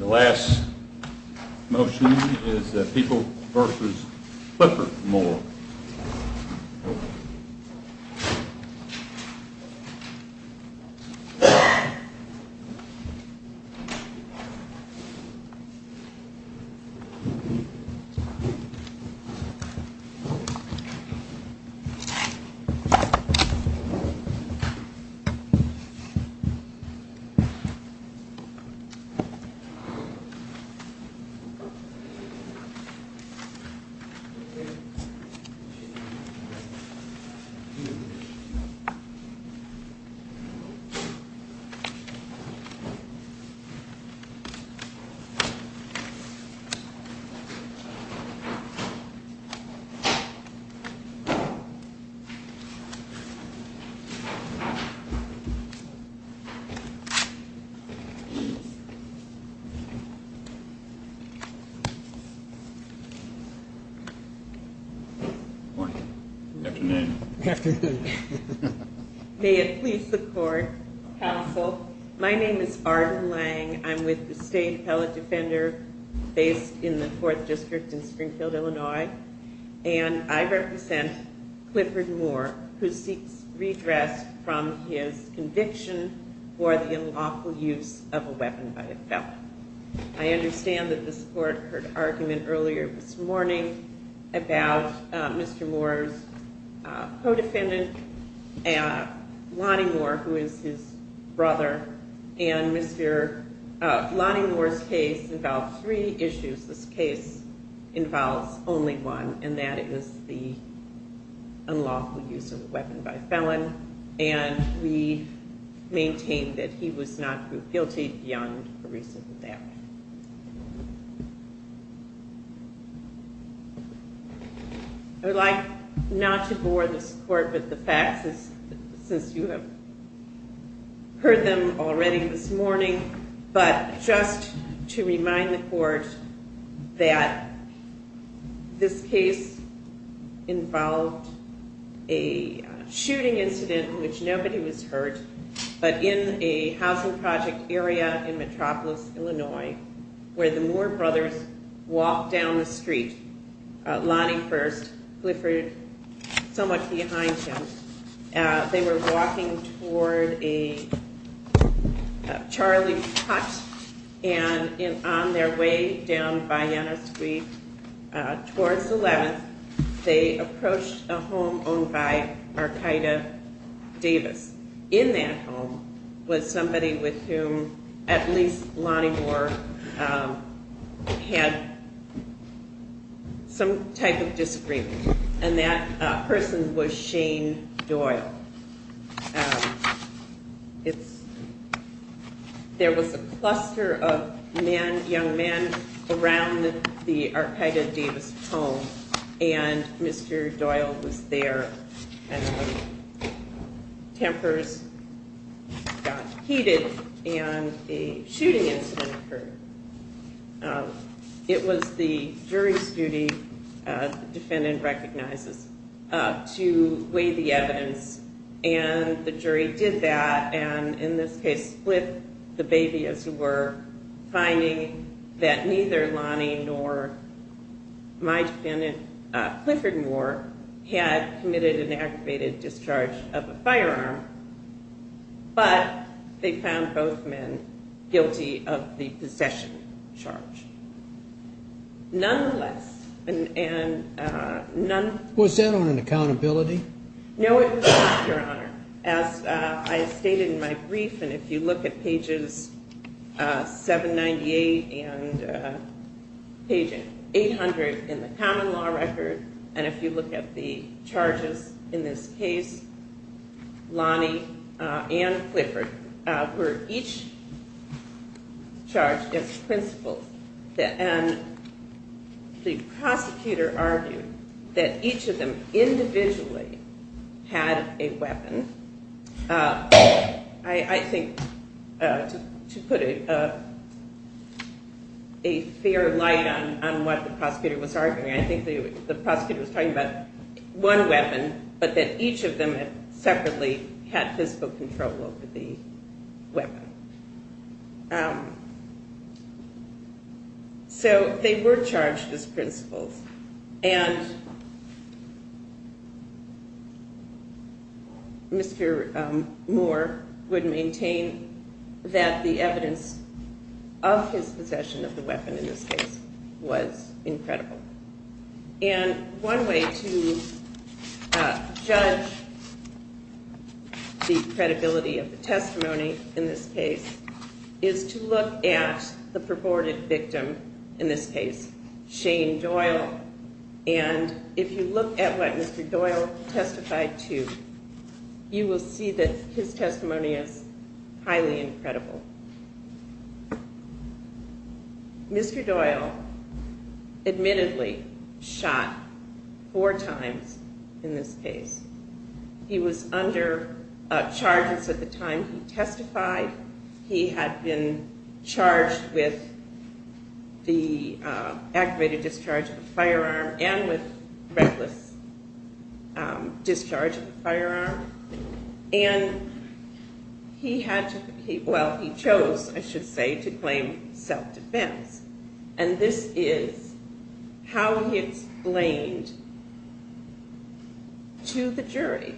The last motion is People v. Clifford Moore The last motion is People v. Clifford Moore The last motion is People v. Clifford Moore The last motion is People v. Clifford Moore I would like not to bore this Court with the facts, since you have heard them already this morning, but just to remind the Court that this case involved a shooting incident in which nobody was hurt, but in a housing project area in Metropolis, Illinois, where the Moore brothers walked down the street, Lonnie first, Clifford somewhat behind him. They were walking toward a Charlie's Hut, and on their way down Vienna Street towards 11th, they approached a home owned by Archida Davis. In that home was somebody with whom at least Lonnie Moore had some type of disagreement, and that person was Shane Doyle. There was a cluster of men, young men, around the Archida Davis home, and Mr. Doyle was there. Tempers got heated, and a shooting incident occurred. It was the jury's duty, the defendant recognizes, to weigh the evidence, and the jury did that, and in this case split the baby, as it were, finding that neither Lonnie nor my defendant, Clifford Moore, had committed an aggravated discharge of a firearm, but they found both men guilty of the possession charge. Nonetheless, and none... Was that on an accountability? No, it was not, Your Honor. As I stated in my brief, and if you look at pages 798 and page 800 in the common law record, and if you look at the charges in this case, Lonnie and Clifford were each charged as principals, and the prosecutor argued that each of them individually had a weapon. I think to put a fair light on what the prosecutor was arguing, I think the prosecutor was talking about one weapon, but that each of them separately had physical control over the weapon. So they were charged as principals, and Mr. Moore would maintain that the evidence of his possession of the weapon in this case was incredible, and one way to judge the credibility of the testimony in this case is to look at the purported victim in this case, Shane Doyle, and if you look at what Mr. Doyle testified to, you will see that his testimony is highly incredible. Mr. Doyle admittedly shot four times in this case. He was under charges of the time he testified. He had been charged with the activated discharge of the firearm and with reckless discharge of the firearm, and he chose, I should say, to claim self-defense, and this is how he explained to the jury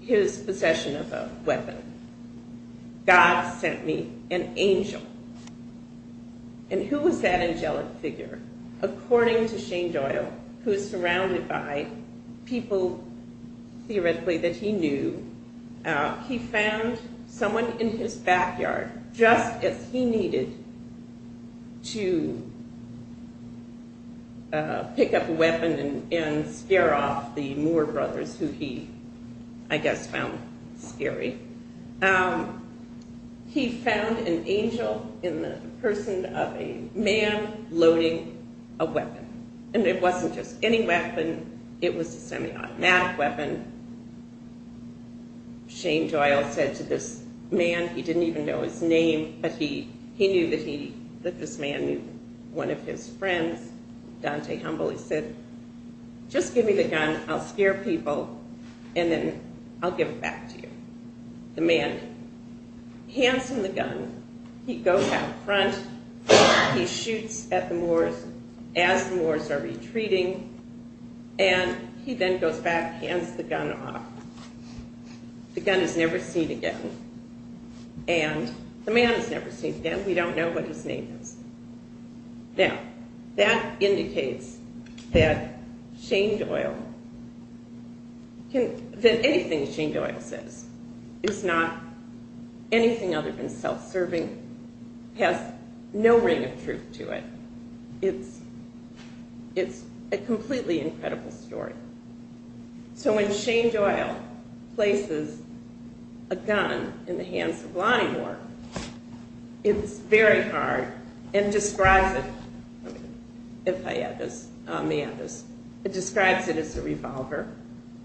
his possession of a weapon. God sent me an angel, and who was that angelic figure? According to Shane Doyle, who is surrounded by people theoretically that he knew, he found someone in his backyard just as he needed to pick up a weapon and scare off the Moore brothers, who he, I guess, found scary. He found an angel in the person of a man loading a weapon, and it wasn't just any weapon. It was a semi-automatic weapon. Shane Doyle said to this man, he didn't even know his name, but he knew that this man knew one of his friends, Dante Humble. He said, just give me the gun. I'll scare people, and then I'll give it back to you. The man hands him the gun. He goes out front. He shoots at the Moores as the Moores are retreating, and he then goes back, hands the gun off. The gun is never seen again, and the man is never seen again. We don't know what his name is. Now, that indicates that anything Shane Doyle says is not anything other than self-serving, has no ring of truth to it. It's a completely incredible story. So when Shane Doyle places a gun in the hands of Lonnie Moore, it's a very hard, and describes it, if I may have this, it describes it as a revolver,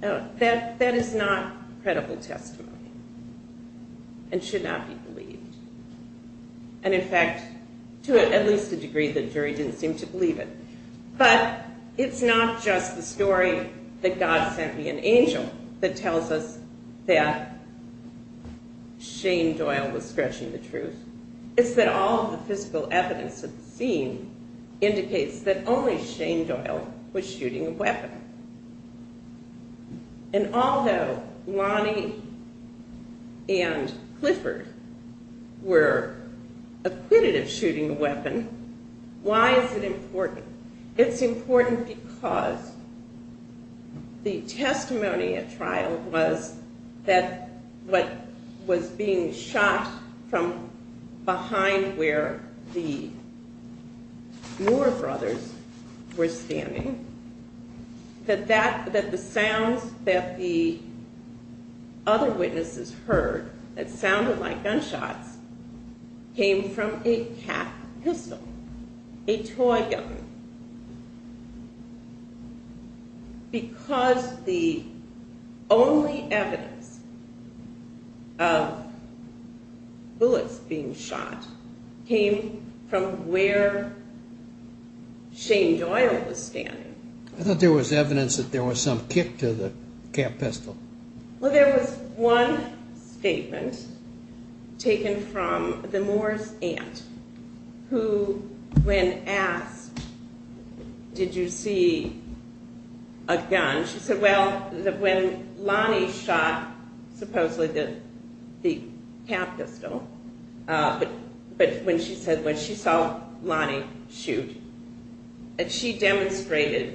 that is not credible testimony, and should not be believed, and in fact, to at least a degree, the jury didn't seem to believe it. But it's not just the story that God sent me an angel that tells us that Shane Doyle was stretching the truth. It's that all the physical evidence at the scene indicates that only Shane Doyle was shooting a weapon. And although Lonnie and Clifford were acquitted of shooting a weapon, why is it important? It's important because the testimony at trial was that what was being shot from behind where the Moore brothers were standing, that the sounds that the other witnesses heard that sounded like gunshots came from a cat pistol, a toy gun. And the testimony at trial was that the gun was being shot because the only evidence of bullets being shot came from where Shane Doyle was standing. I thought there was evidence that there was some kick to the cat pistol. Well, there was one statement taken from the Moore's aunt, who when asked, did you see a gun, she said, well, when Lonnie shot supposedly the cat pistol, but when she saw Lonnie shoot, she demonstrated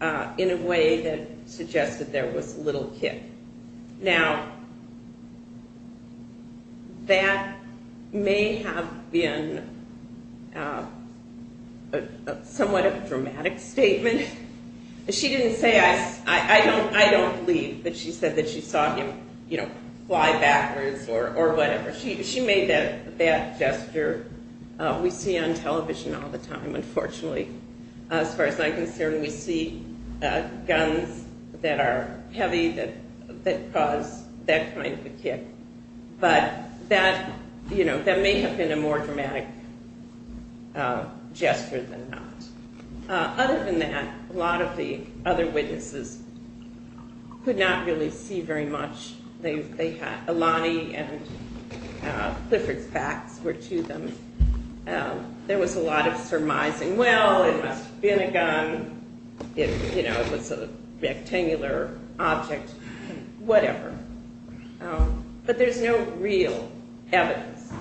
in a way that suggested there was a little kick. Now, that may have been a somewhat dramatic statement. She didn't say, I don't believe that she said that she saw him fly backwards or whatever. She made that gesture. We see it on television all the time, unfortunately. As far as I'm concerned, we see guns that are heavy that cause that kind of a kick, but that may have been a more dramatic gesture than not. Other than that, a lot of the other witnesses could not really see very much. Lonnie and Clifford's facts were to them. There was a lot of surmising, well, it must have been a gun, it was a rectangular object, whatever, but there's no real evidence.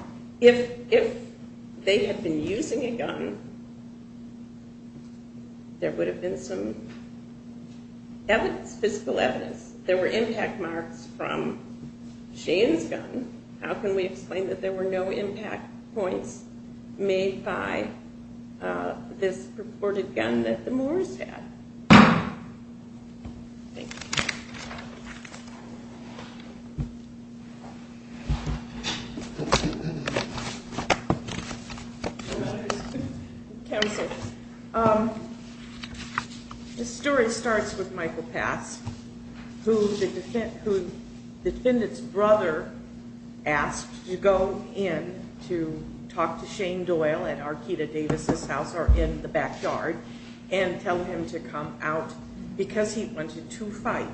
If they had been using a gun, there would have been some physical evidence. There were impact marks from Shane's gun. How can we explain that there were no impact points made by this purported gun that the Moores had? This story starts with Michael Pass, who the defendant's brother asked to go in to talk to Shane Doyle at Arkita Davis' house or in the backyard and tell him to come out because he wanted to fight.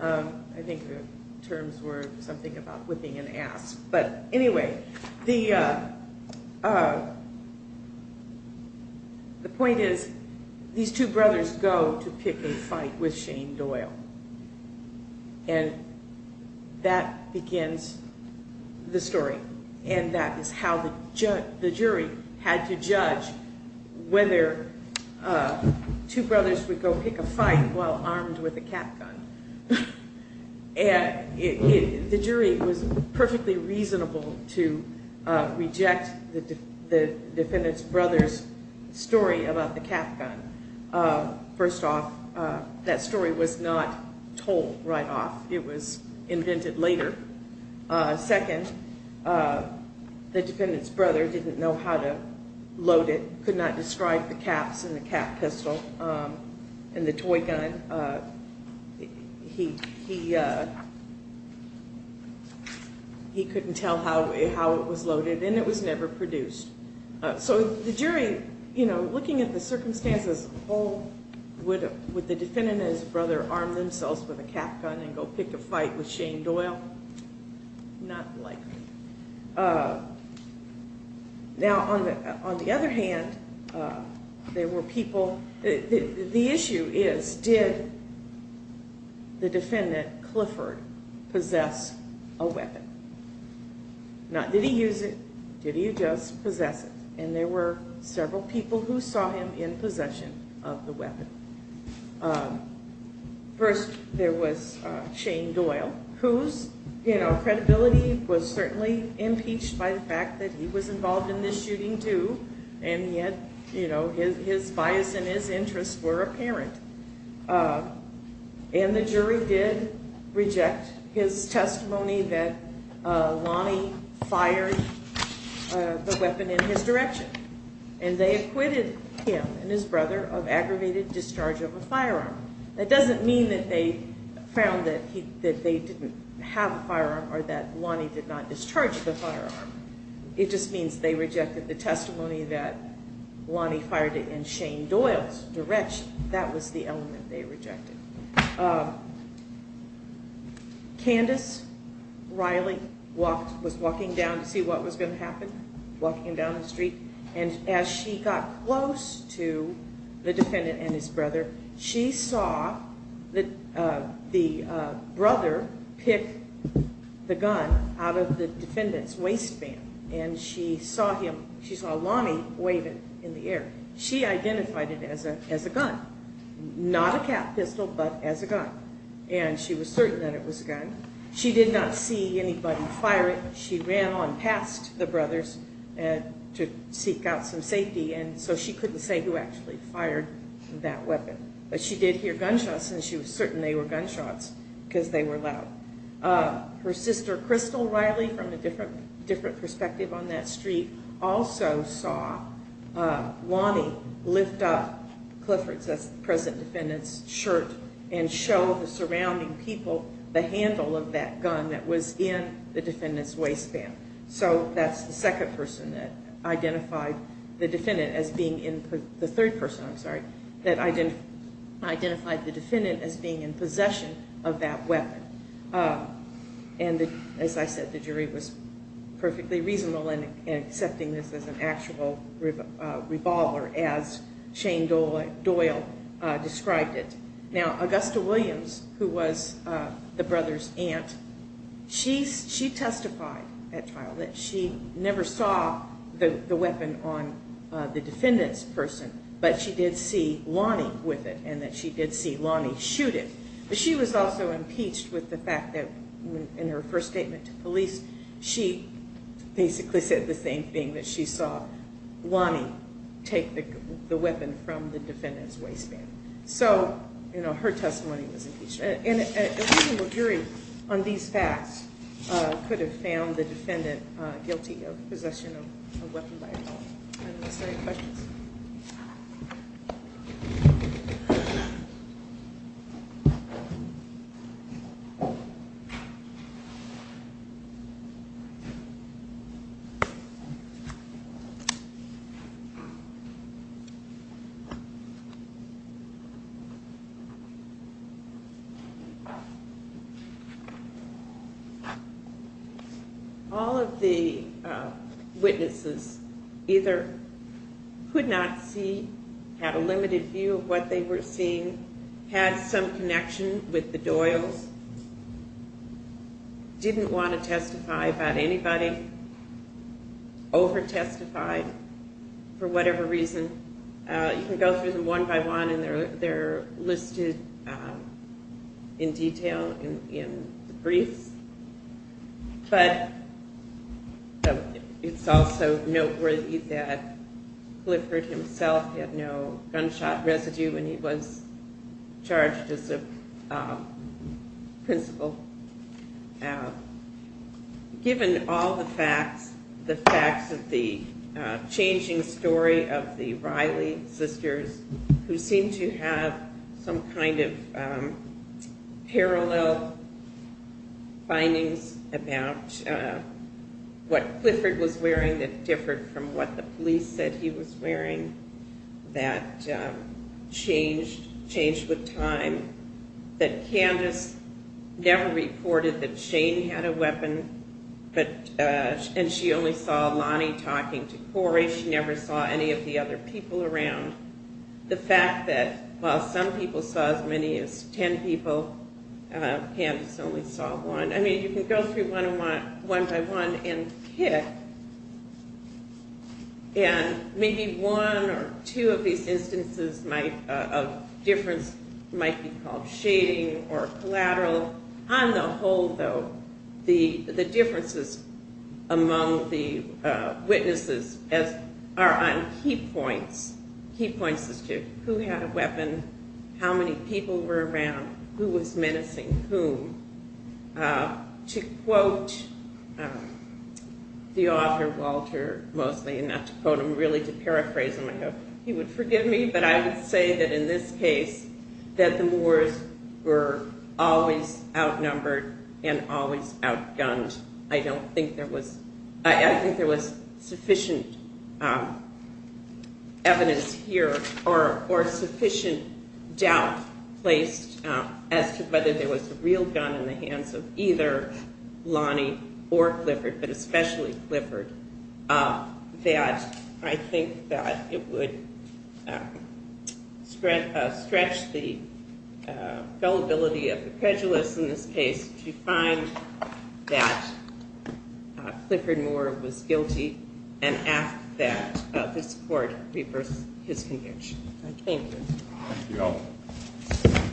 I think the terms were something about whipping an ass. Anyway, the point is these two brothers go to pick a fight with Shane Doyle. That begins the story. That is how the jury had to judge whether two brothers would go pick a fight while armed with a cap gun. The jury was perfectly reasonable to reject the defendant's brother's story about the cap gun. First off, that story was not told right off. It was invented later. Second, the defendant's brother didn't know how to load it, could not describe the caps and the cap pistol and the toy gun. He couldn't tell how it was loaded and it was never produced. The jury, looking at the circumstances as a whole, would the defendant and his brother arm themselves with a cap gun and go pick a fight with Shane Doyle? Not likely. On the other hand, the issue is did the defendant, Clifford, possess a weapon? Did he use it? Did he just possess it? There were several people who saw him in possession of the weapon. First, there was Shane Doyle, whose credibility was certainly impeached by the fact that he was involved in this shooting, too, and yet his bias and his interests were apparent. The jury did reject his testimony that Lonnie fired the weapon in his direction. They acquitted him and his brother of aggravated discharge of a firearm. That doesn't mean that they found that they didn't have a firearm or that Lonnie did not discharge the firearm. It just means they rejected the testimony that Lonnie fired it in Shane Doyle's direction. That was the element they rejected. Candace Riley was walking down to see what was going to happen. She was close to the defendant and his brother. She saw the brother pick the gun out of the defendant's waistband. She saw Lonnie wave it in the air. She identified it as a gun, not a cap pistol, but as a gun. She was certain that it was a gun. She did not see anybody fire it. She ran on past the brothers to seek out some safety. She could not say who actually fired that weapon. She did hear gunshots and she was certain they were gunshots because they were loud. Her sister, Crystal Riley, from a different perspective on that street, also saw Lonnie lift up Clifford's, that's the present defendant's, shirt and show the surrounding people the handle of that gun that was in the defendant's waistband. So that's the second person that identified the defendant as being in possession of that weapon. As I said, the jury was perfectly reasonable in accepting this as an actual revolver as Shane Doyle described it. Now Augusta Williams, who was the brother's aunt, she testified at trial that she never saw the weapon on the defendant's person, but she did see Lonnie with it and that she did see Lonnie shoot it. But she was also impeached with the fact that in her first statement to police, she basically said the same thing, that she saw Lonnie take the weapon from the defendant's waistband. So her testimony was that she, in fact, could have found the defendant guilty of possession of a weapon by default. All of the witnesses either could not see, had a limited view of what they were seeing, had some connection with the Doyles, didn't want to testify about anybody, over testified for whatever reason. You can go through them one by one and they're listed in detail in the briefs. But it's also noteworthy that Clifford himself had no gunshot residue when he was charged as a principal. Given all the facts, the facts of the changing story of the Riley sisters, who seemed to have some kind of parallel relationship with the Doyles findings about what Clifford was wearing that differed from what the police said he was wearing, that changed with time, that Candace never reported that Shane had a weapon, and she only saw Lonnie talking to Corey. She never saw any of the other people around. The fact that while some people saw as many as ten people, Candace only saw one. I mean, you can go through one by one and pick, and maybe one or two of these instances of difference might be called shading or collateral. On the whole, though, the differences among the key points is to who had a weapon, how many people were around, who was menacing whom. To quote the author, Walter, mostly, and not to quote him, really to paraphrase him, he would forgive me, but I would say that in this case that the Moors were always outnumbered and always outgunned. I don't think there was, I think there was sufficient evidence here or sufficient doubt placed as to whether there was a real gun in the hands of either Lonnie or Clifford, but especially Clifford, that I think that it would stretch the gullibility of the prejudice in this case to find that Clifford Moore was guilty and ask that this court reverse his conviction. Thank you.